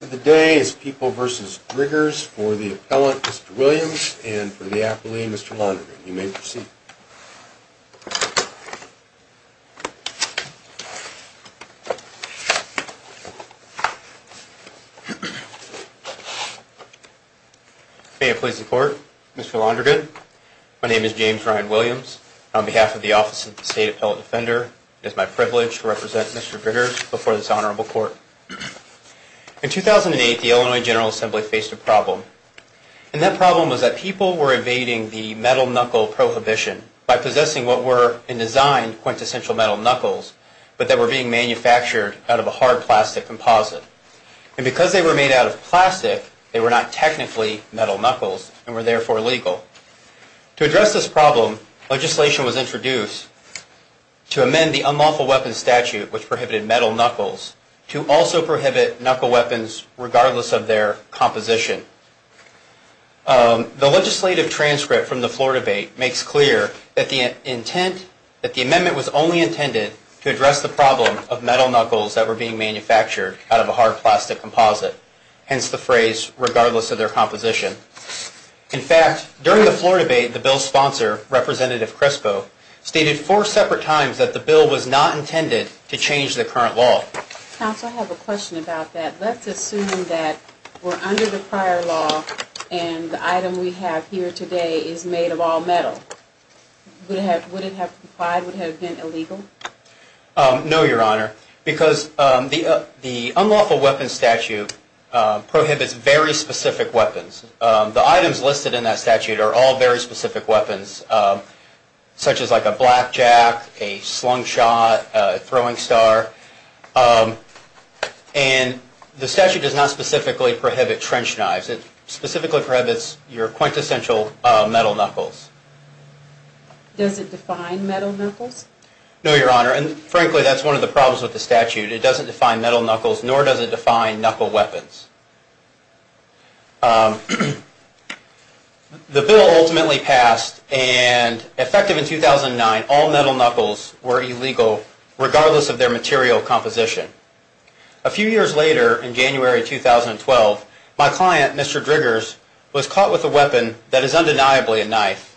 of the day is People v. Driggers for the appellant, Mr. Williams, and for the appellee, Mr. Londrigan. You may proceed. May it please the court. Mr. Londrigan, my name is James Ryan Williams. On behalf of the Office of the State Appellate Defender, it is my privilege to represent Mr. Driggers before this honorable court. In 2008, the Illinois General Assembly faced a problem, and that problem was that people were evading the metal knuckle prohibition by possessing what were, in design, quintessential metal knuckles, but that were being manufactured out of a hard plastic composite. And because they were made out of plastic, they were not technically metal knuckles and were therefore illegal. To address this problem, legislation was introduced to amend the Unlawful Weapons Statute, which prohibited metal knuckles, to also prohibit knuckle weapons regardless of their composition. The legislative transcript from the floor debate makes clear that the amendment was only intended to address the problem of metal knuckles that were being manufactured out of a hard plastic composite, hence the phrase, regardless of their composition. In fact, during the floor debate, the bill's sponsor, Representative Crespo, stated four separate times that the bill was not intended to change the current law. Counsel, I have a question about that. Let's assume that we're under the prior law and the item we have here today is made of all metal. Would it have complied? Would it have been illegal? No, Your Honor, because the Unlawful Weapons Statute prohibits very specific weapons. The items listed in that statute are all very specific weapons, such as like a blackjack, a slingshot, a throwing star, and the statute does not specifically prohibit trench knives. It specifically prohibits your quintessential metal knuckles. Does it define metal knuckles? No, Your Honor, and frankly, that's one of the problems with the statute. It doesn't define metal knuckles, nor does it define knuckle weapons. The bill ultimately passed, and effective in 2009, all metal knuckles were illegal regardless of their material composition. A few years later, in January 2012, my client, Mr. Driggers, was caught with a weapon that is undeniably a knife,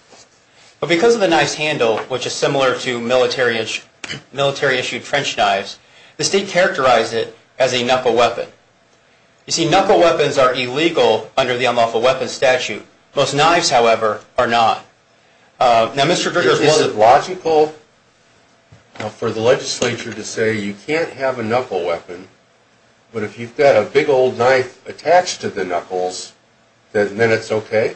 but because of the knife's handle, which is similar to military-issued trench knives, the state characterized it as a knuckle weapon. You see, knuckle weapons are illegal under the Unlawful Weapons Statute. Most knives, however, are not. Now, Mr. Driggers, is it logical for the legislature to say you can't have a knuckle weapon, but if you've got a big old knife attached to the knuckles, then it's okay?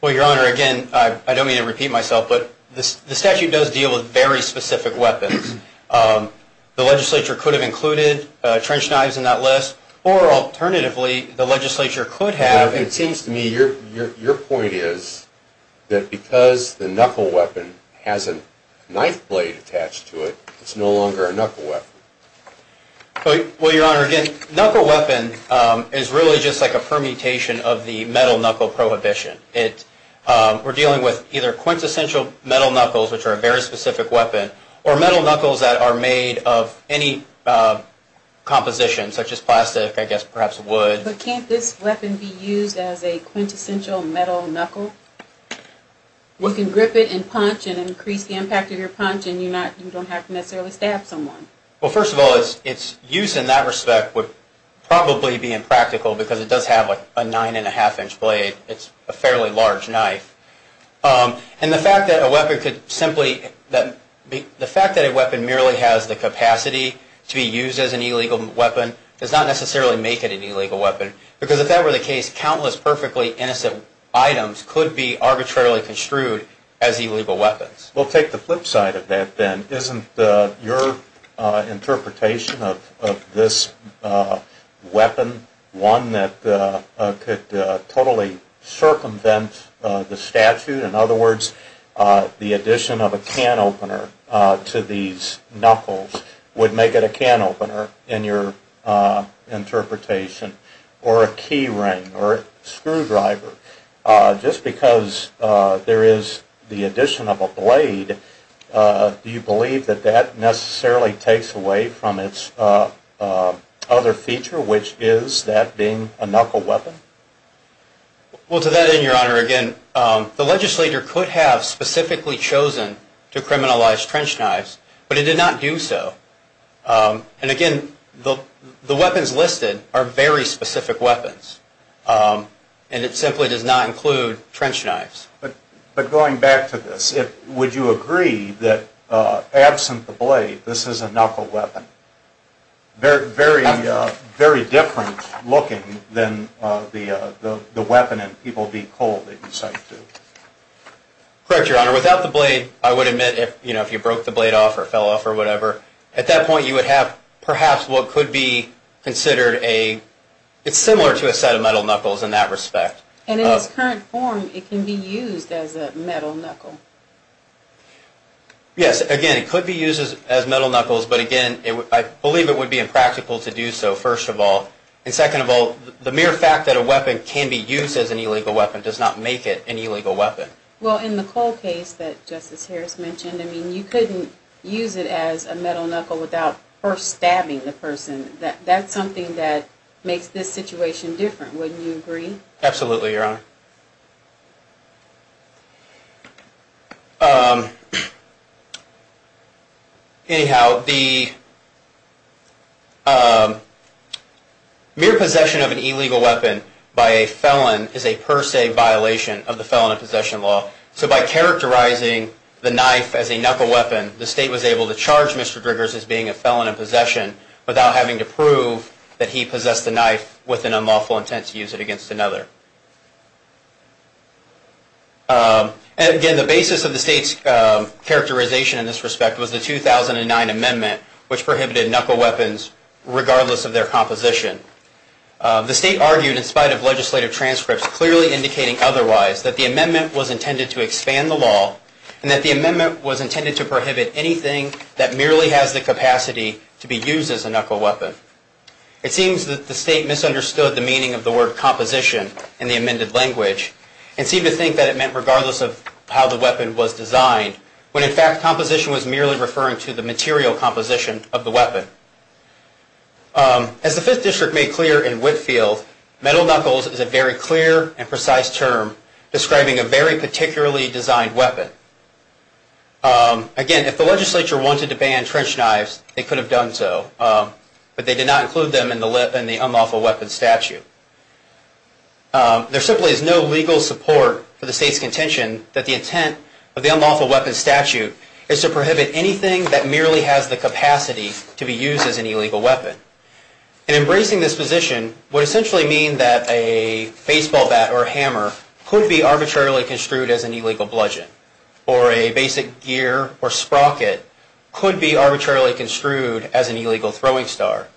Well, Your Honor, again, I don't mean to repeat myself, but the statute does deal with very specific weapons. The legislature could have included trench knives in that list, or alternatively, the legislature could have... It seems to me your point is that because the knuckle weapon has a knife blade attached to it, it's no longer a knuckle weapon. Well, Your Honor, again, knuckle weapon is really just like a permutation of the metal knuckle prohibition. We're dealing with either quintessential metal knuckles, which are a very specific weapon, or metal knuckles that are made of any composition, such as plastic, I guess, perhaps wood. But can't this weapon be used as a quintessential metal knuckle? You can grip it and punch and increase the impact of your punch, and you don't have to necessarily stab someone. Well, first of all, its use in that respect would probably be impractical because it does have a nine-and-a-half-inch blade. It's a fairly large knife. And the fact that a weapon could simply... The fact that a weapon merely has the capacity to be used as an illegal weapon does not necessarily make it an illegal weapon, because if that were the case, countless perfectly innocent items could be arbitrarily construed as illegal weapons. Well, take the flip side of that, then. Isn't your interpretation of this a weapon, one that could totally circumvent the statute? In other words, the addition of a can opener to these knuckles would make it a can opener in your interpretation, or a key ring, or a screwdriver. Just because there is the addition of a blade, do you believe that that necessarily takes away from its other feature, which is that being a knuckle weapon? Well, to that end, Your Honor, again, the legislator could have specifically chosen to criminalize trench knives, but he did not do so. And again, the weapons listed are very specific weapons, and it simply does not include trench knives. But going back to this, would you agree that absent the blade, this is a very different looking than the weapon in people beat cold that you cite to? Correct, Your Honor. Without the blade, I would admit, if you broke the blade off or fell off or whatever, at that point you would have perhaps what could be considered a, it's similar to a set of metal knuckles in that respect. And in its current form, it can be used as a metal knuckle? Yes. Again, it could be used as metal knuckles, but again, I believe it would be impractical to do so, first of all. And second of all, the mere fact that a weapon can be used as an illegal weapon does not make it an illegal weapon. Well, in the cold case that Justice Harris mentioned, I mean, you couldn't use it as a metal knuckle without first stabbing the person. That's something that makes this situation different. Wouldn't you agree? Absolutely, Your Honor. Anyhow, the mere possession of an illegal weapon by a felon is a per se violation of the Felon in Possession Law. So by characterizing the knife as a knuckle weapon, the State was able to charge Mr. Driggers as being a felon in possession without having to prove that he possessed the knife with an unlawful intent to use it against another. And again, the basis of the State's characterization in this respect was the 2009 amendment, which prohibited knuckle weapons regardless of their composition. The State argued, in spite of legislative transcripts clearly indicating otherwise, that the amendment was intended to expand the law and that the amendment was intended to prohibit anything that merely has the capacity to be used as a knuckle weapon. It seems that the State misunderstood the meaning of the word composition in the amended language and seemed to think that it meant regardless of how the weapon was designed, when in fact composition was merely referring to the material composition of the weapon. As the Fifth District made clear in Whitfield, metal knuckles is a very clear and precise term describing a very particularly designed weapon. Again, if the legislature wanted to ban trench knives, they could have done so, but they did not include them in the unlawful weapon statute. There simply is no legal support for the State's contention that the intent of the unlawful weapon statute is to prohibit anything that merely has the capacity to be used as an illegal weapon. And embracing this position would essentially mean that a baseball bat or a hammer could be arbitrarily construed as an illegal bludgeon, or a basic gear or sprocket could be arbitrarily construed as an illegal throwing star.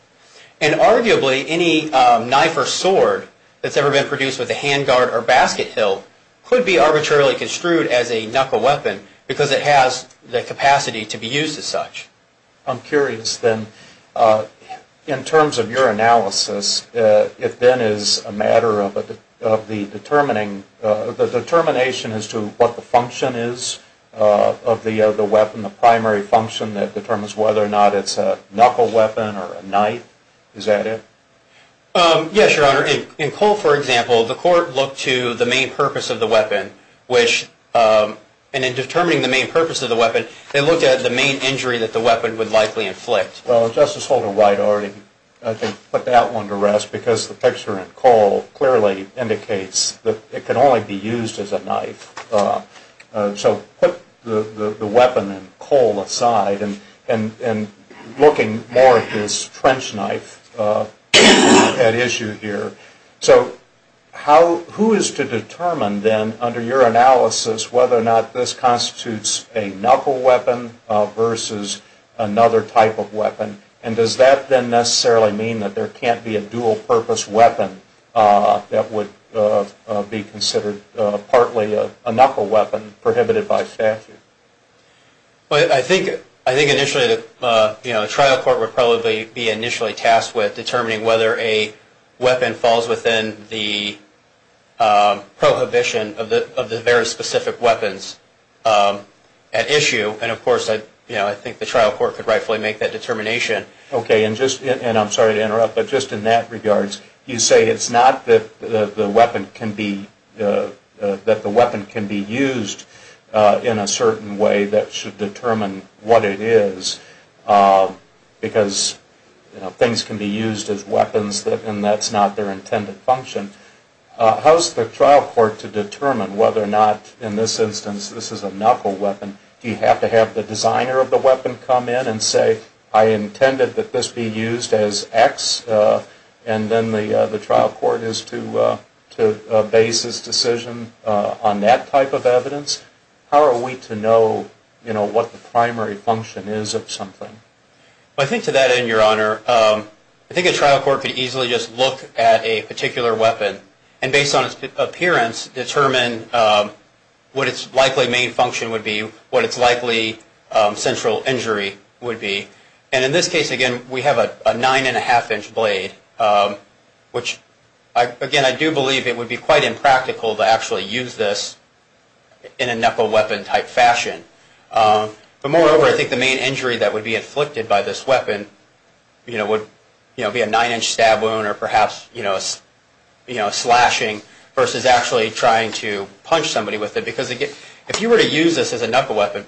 And arguably any knife or sword that's ever been produced with a hand guard or basket hilt could be arbitrarily construed as a knuckle weapon because it has the capacity to be used as such. I'm curious then, in terms of your analysis, if then is a matter of the determination as to what the function is of the weapon, the primary function that determines whether or not it's a knuckle weapon or a knife, is that it? Yes, Your Honor. In Cole, for example, the court looked to the main purpose of the weapon, which, and in determining the main purpose of the weapon, they looked at the main injury that the weapon would likely inflict. Well, Justice Holder-White already, I think, put that one to rest because the picture in Cole clearly indicates that it can only be used as a knife. So put the weapon in Cole aside and looking more at this trench knife at issue here. So who is to determine then, under your analysis, whether or not this constitutes a knuckle weapon versus another type of weapon? And does that then necessarily mean that there can't be a dual-purpose weapon that would be considered partly a knuckle weapon prohibited by statute? Well, I think initially the trial court would probably be initially tasked with determining whether a weapon falls within the prohibition of the very specific weapons at issue. And, of course, I think the trial court could rightfully make that determination. Okay. And I'm sorry to interrupt, but just in that regards, you say it's not that the weapon can be used in a certain way that should determine what it is because things can be used as weapons and that's not their intended function. How's the trial court to determine whether or not, in this instance, this is a I intended that this be used as X and then the trial court is to base its decision on that type of evidence? How are we to know, you know, what the primary function is of something? Well, I think to that end, Your Honor, I think a trial court could easily just look at a particular weapon and based on its appearance determine what its likely main function would be, what its likely central injury would be. And in this case, again, we have a nine and a half inch blade, which, again, I do believe it would be quite impractical to actually use this in a knuckle weapon type fashion. But, moreover, I think the main injury that would be inflicted by this weapon, you know, would be a nine inch stab wound or perhaps, you know, slashing versus actually trying to punch somebody with it because again, if you were to use this as a knuckle weapon,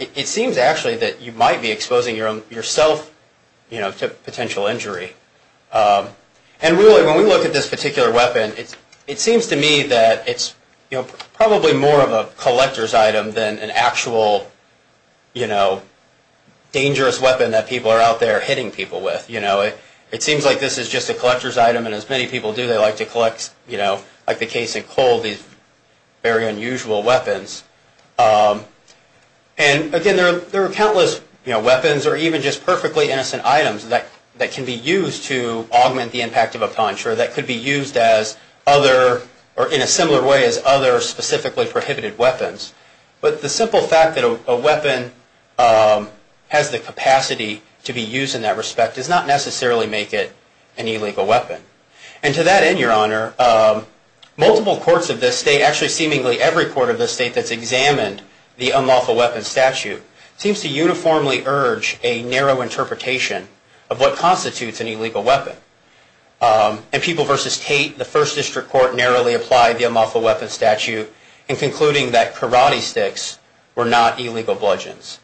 it seems actually that you might be exposing yourself, you know, to potential injury. And really, when we look at this particular weapon, it seems to me that it's, you know, probably more of a collector's item than an actual, you know, dangerous weapon that people are out there hitting people with. You know, it seems like this is just a collector's item and as many people do, they like to collect, you know, like the case in coal, these very unusual weapons. And, again, there are countless, you know, weapons or even just perfectly innocent items that can be used to augment the impact of a punch or that could be used as other or in a similar way as other specifically prohibited weapons. But the simple fact that a weapon has the capacity to be used as a knuckle weapon, again, Your Honor, multiple courts of this state, actually seemingly every court of this state that's examined the unlawful weapons statute, seems to uniformly urge a narrow interpretation of what constitutes an illegal weapon. And People v. Tate, the first district court narrowly applied the unlawful weapons statute in concluding that karate sticks were not illegal bludgeons.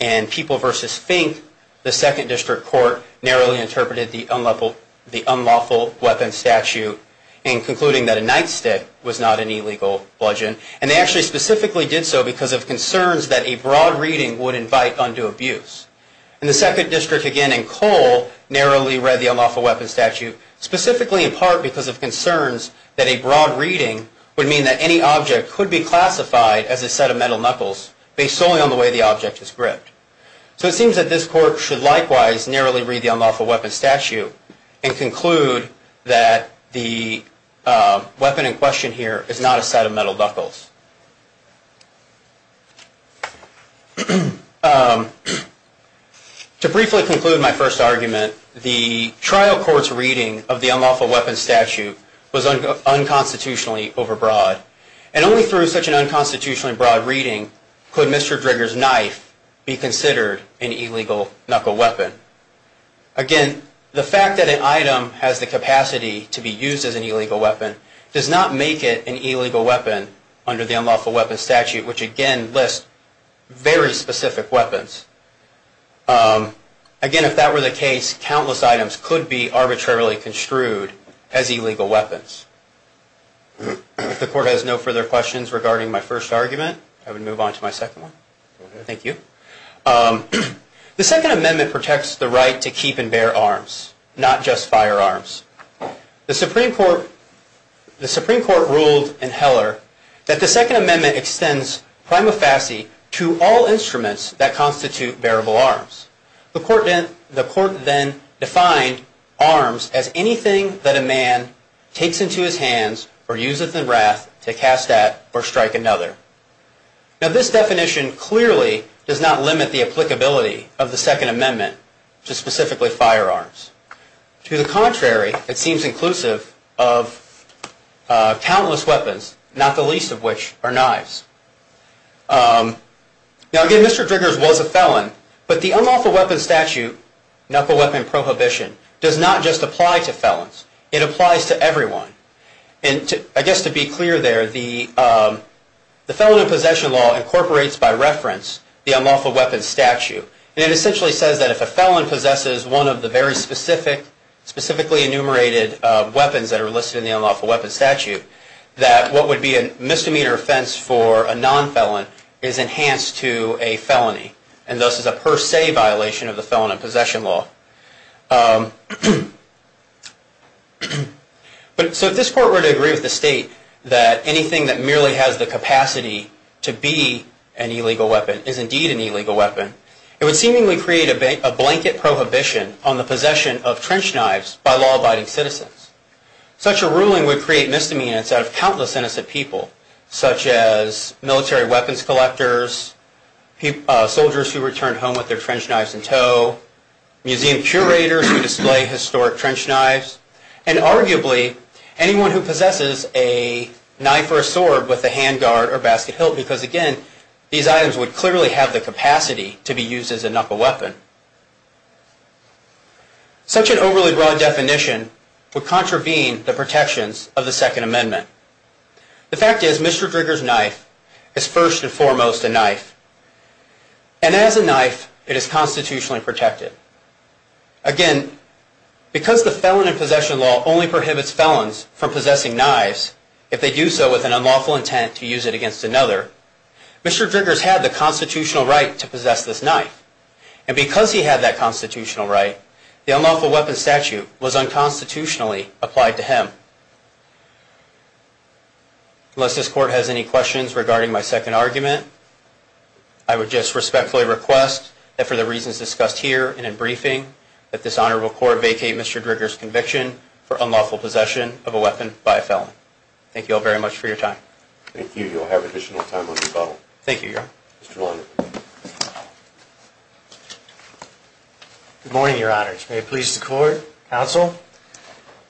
And People v. Fink, the second district court, narrowly interpreted the unlawful weapons statute in concluding that a nightstick was not an illegal bludgeon. And they actually specifically did so because of concerns that a broad reading would invite undue abuse. And the second district, again, in coal, narrowly read the unlawful weapons statute specifically in part because of concerns that a broad reading would mean that any object could be classified as a set of metal knuckles based solely on the way the object is gripped. So it seems that this court should likewise narrowly read the unlawful weapons statute and conclude that the weapon in question here is not a set of metal knuckles. To briefly conclude my first argument, the trial court's reading of the unlawful weapons statute was unconstitutionally overbroad. And only through such an unconstitutionally broad reading could Mr. Drigger's knife be considered an illegal knuckle weapon. Again, the fact that an item has the capacity to be used as an illegal weapon does not make it an illegal weapon under the unlawful weapons statute, which again lists very specific weapons. Again, if that were the case, countless items could be arbitrarily construed as I would move on to my second one. Thank you. The Second Amendment protects the right to keep and bear arms, not just firearms. The Supreme Court ruled in Heller that the Second Amendment extends prima facie to all instruments that constitute bearable arms. The court then defined arms as anything that a man takes into his hands or uses in wrath to cast at or strike another. Now, this definition clearly does not limit the applicability of the Second Amendment to specifically firearms. To the contrary, it seems inclusive of countless weapons, not the least of which are knives. Now, again, Mr. Drigger's was a felon, but the unlawful weapons statute knuckle weapon prohibition does not just apply to everyone. And I guess to be clear there, the Felon in Possession Law incorporates by reference the unlawful weapons statute. And it essentially says that if a felon possesses one of the very specific, specifically enumerated weapons that are listed in the unlawful weapons statute, that what would be a misdemeanor offense for a non-felon is enhanced to a felony, and thus is a per se violation of the statute. So if this court were to agree with the state that anything that merely has the capacity to be an illegal weapon is indeed an illegal weapon, it would seemingly create a blanket prohibition on the possession of trench knives by law abiding citizens. Such a ruling would create misdemeanors out of countless innocent people, such as military weapons collectors, soldiers who returned home with their trench knives in tow, museum curators who display historic trench knives, and arguably anyone who possesses a knife or a sword with a handguard or basket hilt, because again, these items would clearly have the capacity to be used as a knuckle weapon. Such an overly broad definition would contravene the protections of the Second Amendment. The fact is Mr. Drigger's knife is first and foremost, it is constitutionally protected. Again, because the felon in possession law only prohibits felons from possessing knives if they do so with an unlawful intent to use it against another, Mr. Drigger's had the constitutional right to possess this knife. And because he had that constitutional right, the unlawful weapons statute was unconstitutionally applied to him. Unless this court has any questions regarding my second argument, I would just respectfully request that for the reasons discussed here and in briefing, that this Honorable Court vacate Mr. Drigger's conviction for unlawful possession of a weapon by a felon. Thank you all very much for your time. Thank you. You'll have additional time on your bottle. Thank you, Your Honor. Mr. Linder. Good morning, Your Honors. May it please the Court, Counsel.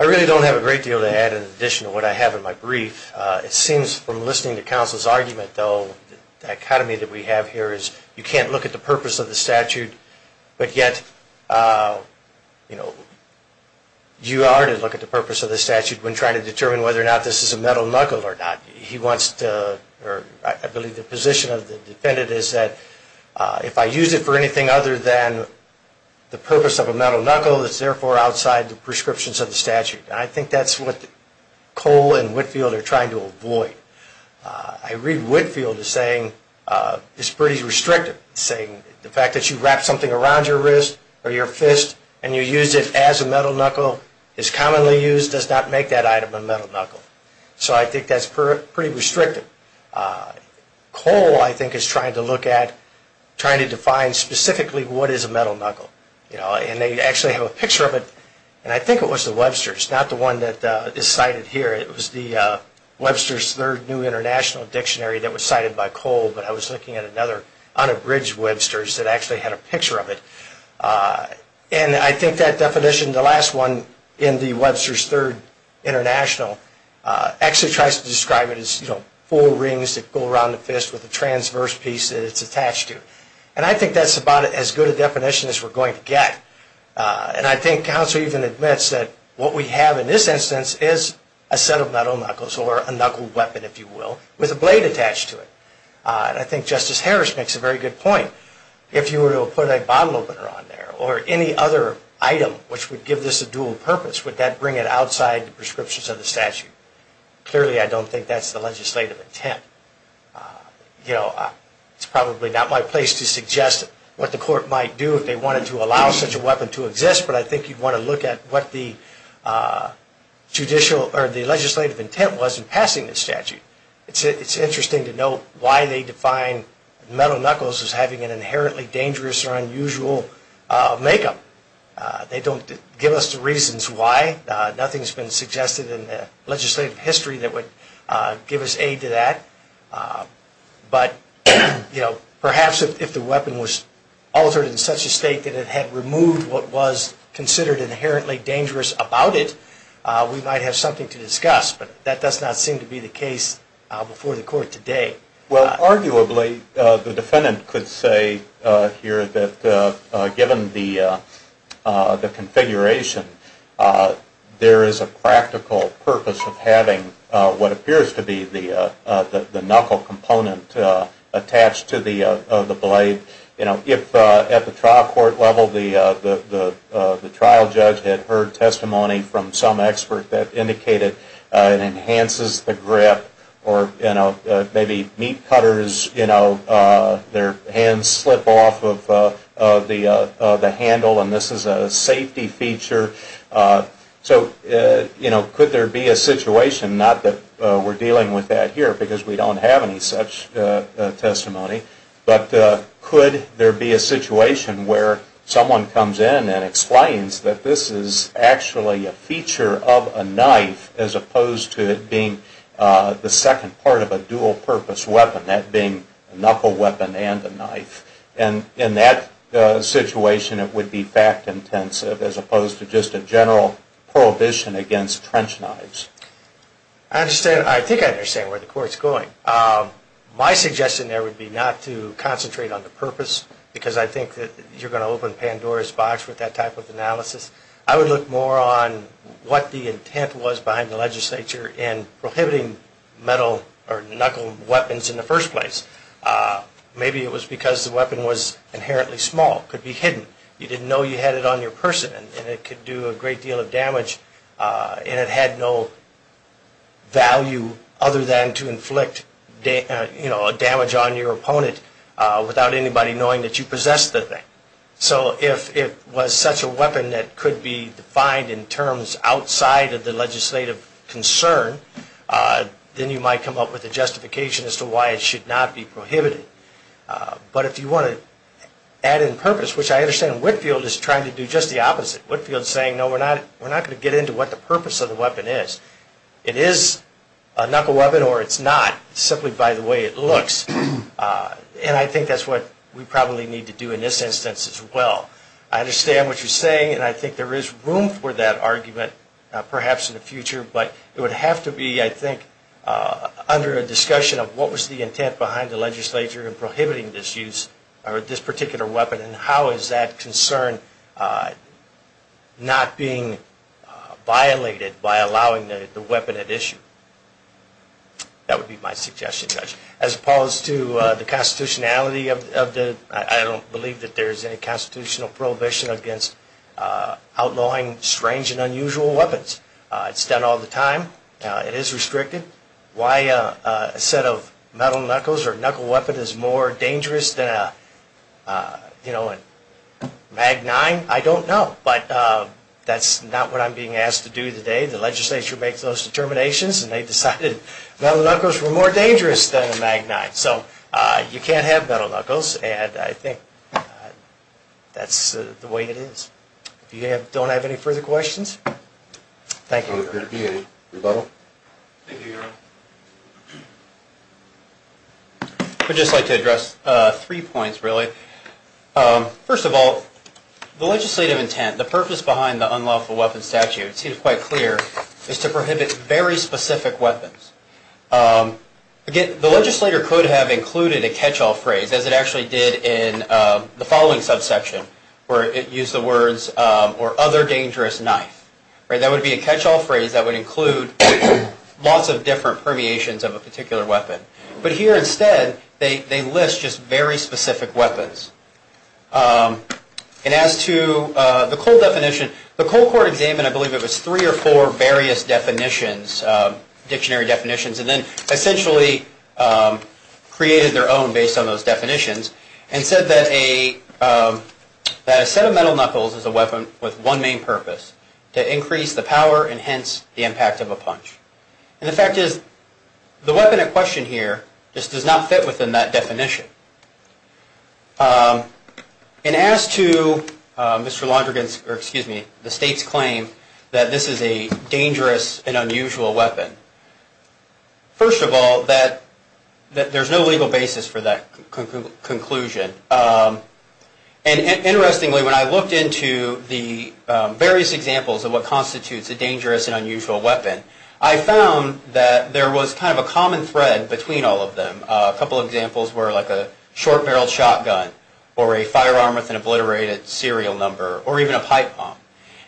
I really don't have a great deal to add in addition to what I have in my brief. It seems from listening to Counsel's argument, though, the dichotomy that we have here is you can't look at the purpose of the statute, but yet, you know, you are to look at the purpose of the statute when trying to determine whether or not this is a metal knuckle or not. He wants to, or I believe the position of the defendant is that if I use it for anything other than the purpose of a metal knuckle, it's therefore outside the prescriptions of the statute. And I think that's what I read Whitfield is saying is pretty restrictive, saying the fact that you wrap something around your wrist or your fist and you use it as a metal knuckle is commonly used does not make that item a metal knuckle. So I think that's pretty restrictive. Cole, I think, is trying to look at, trying to define specifically what is a metal knuckle. And they actually have a picture of it, and I think it was the Webster's, not the one that is cited here. It was the Webster's third new international dictionary that was cited by Cole, but I was looking at another unabridged Webster's that actually had a picture of it. And I think that definition, the last one in the Webster's third international, actually tries to describe it as, you know, four rings that go around the fist with a transverse piece that it's attached to. And I think that's about as good a definition as we're going to get. And I think counsel even admits that what we have in this instance is a set of metal knuckles or a knuckle weapon, if you will, with a blade attached to it. I think Justice Harris makes a very good point. If you were to put a bottle opener on there or any other item which would give this a dual purpose, would that bring it outside the prescriptions of the statute? Clearly I don't think that's the legislative intent. You know, it's probably not my place to suggest what the court might do if they wanted to allow such a weapon to exist, but I think you'd want to look at what the judicial or the legislative intent was in passing this statute. It's interesting to note why they define metal knuckles as having an inherently dangerous or unusual makeup. They don't give us the reasons why. Nothing's been suggested in the legislative history that would give us aid to that. But, you know, perhaps if the weapon was altered in such a state that it had removed what was considered inherently dangerous about it, we might have something to discuss, but that does not seem to be the case before the court today. Well, arguably the defendant could say here that given the configuration, there is a practical purpose of having what appears to be the knuckle component attached to the blade. You know, if at the trial court level the trial judge had heard testimony from some expert that indicated it enhances the grip or, you know, maybe meat cutters, you know, their hands slip off of the handle and this is a safety feature. So, you know, could there be a situation, not that we're dealing with that here because we don't have any such testimony, but could there be a situation where someone comes in and explains that this is actually a feature of a knife as opposed to it being the second part of a dual purpose weapon, that being a knuckle weapon and a knife. And in that situation it would be fact intensive as opposed to just a general prohibition against trench knives. I think I understand where the court's going. My suggestion there would be not to concentrate on the purpose because I think that you're going to open Pandora's box with that type of analysis. I would look more on what the intent was behind the legislature in prohibiting metal or knuckle weapons in the first place. Maybe it was because the weapon was inherently small. It could be hidden. You didn't know you had it on your person and it could do a great deal of damage and it had no value other than to inflict, you know, damage on your opponent without anybody knowing that you possessed the thing. So if it was such a weapon that could be defined in terms outside of the legislative concern, then you might come up with a justification as to why it should not be prohibited. But if you want to add in purpose, which I understand Whitfield is trying to do just the opposite. Whitfield's saying, no, we're not going to get into what the purpose of the weapon is. It is a knuckle weapon or it's not simply by the way it looks. And I think that's what we probably need to do in this instance as well. I understand what you're saying and I think there is room for that argument perhaps in the future, but it would have to be, I think, under a discussion of what was the intent behind the legislature in prohibiting this use or this particular weapon and how is that concern not being violated by allowing the weapon at issue. That would be my suggestion, Judge. As opposed to the constitutionality of the, I don't believe that there is any constitutional prohibition against outlawing strange and unusual weapons. It's done all the time. It is restricted. Why a set of metal knuckles or a knuckle weapon is more dangerous than a magnine, I don't know. But that's not what I'm being asked to do today. The legislature makes those determinations and they decided metal knuckles were more dangerous than a magnine. So you can't have metal knuckles and I think that's the way it is. If you don't have any further questions. Thank you. Rebuttal? Thank you, Your Honor. I'd just like to address three points, really. First of all, the legislative intent, the purpose behind the unlawful weapon statute, it seems quite clear, is to prohibit very specific weapons. Again, the legislator could have included a catch-all phrase as it actually did in the following subsection where it used the words or other dangerous knife. That would be a catch-all phrase that would include lots of different permeations of a particular weapon. But here instead, they list just very specific weapons. And as to the cold definition, the cold court examined, I believe it was three or four various definitions, dictionary definitions, and then essentially created their own based on those definitions and said that a set of metal knuckles is a weapon for the same purpose, to increase the power and hence the impact of a punch. And the fact is, the weapon at question here just does not fit within that definition. And as to Mr. Londrigan's, or excuse me, the State's claim that this is a dangerous and unusual weapon, first of all, there's no legal basis for that conclusion. And interestingly, when I looked into the various examples of what constitutes a dangerous and unusual weapon, I found that there was kind of a common thread between all of them. A couple of examples were like a short-barreled shotgun or a firearm with an obliterated serial number or even a pipe bomb.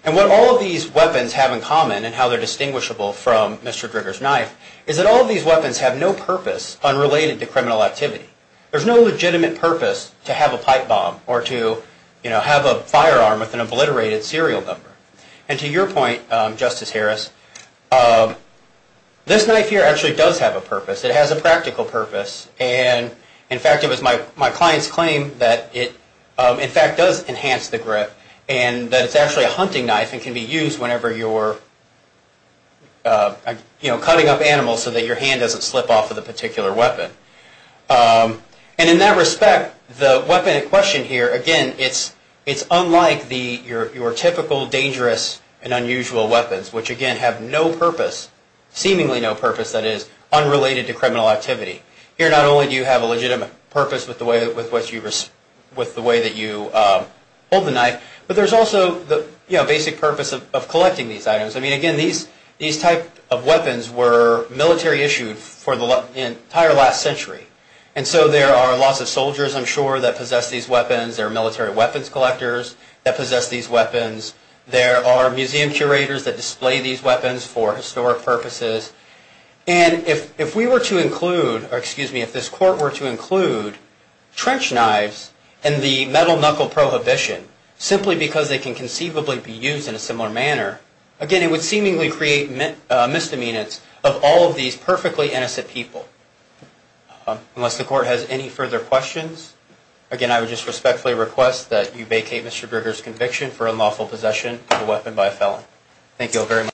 And what all of these weapons have in common and how they're distinguishable from Mr. Drigger's knife is that all of these weapons have no purpose unrelated to criminal activity. There's no legitimate purpose to have a pipe bomb or to have a firearm with an obliterated serial number. And to your point, Justice Harris, this knife here actually does have a purpose. It has a practical purpose. And in fact, it was my client's claim that it in fact does enhance the grip and that it's actually a hunting knife and can be used whenever you're cutting up the rest of the particular weapon. And in that respect, the weapon in question here, again, it's unlike your typical dangerous and unusual weapons, which again have no purpose, seemingly no purpose that is unrelated to criminal activity. Here not only do you have a legitimate purpose with the way that you hold the knife, but there's also the basic purpose of collecting these items. I mean, again, these type of weapons were military issued for the entire last century. And so there are lots of soldiers, I'm sure, that possess these weapons. There are military weapons collectors that possess these weapons. There are museum curators that display these weapons for historic purposes. And if we were to include, or excuse me, if this court were to include trench knives and the metal knuckle prohibition simply because they can conceivably be used in a similar manner, again, it would seemingly create misdemeanors of all of these perfectly innocent people. Unless the court has any further questions, again, I would just respectfully request that you vacate Mr. Brigger's conviction for unlawful possession of a weapon by a felon. Thank you all very much.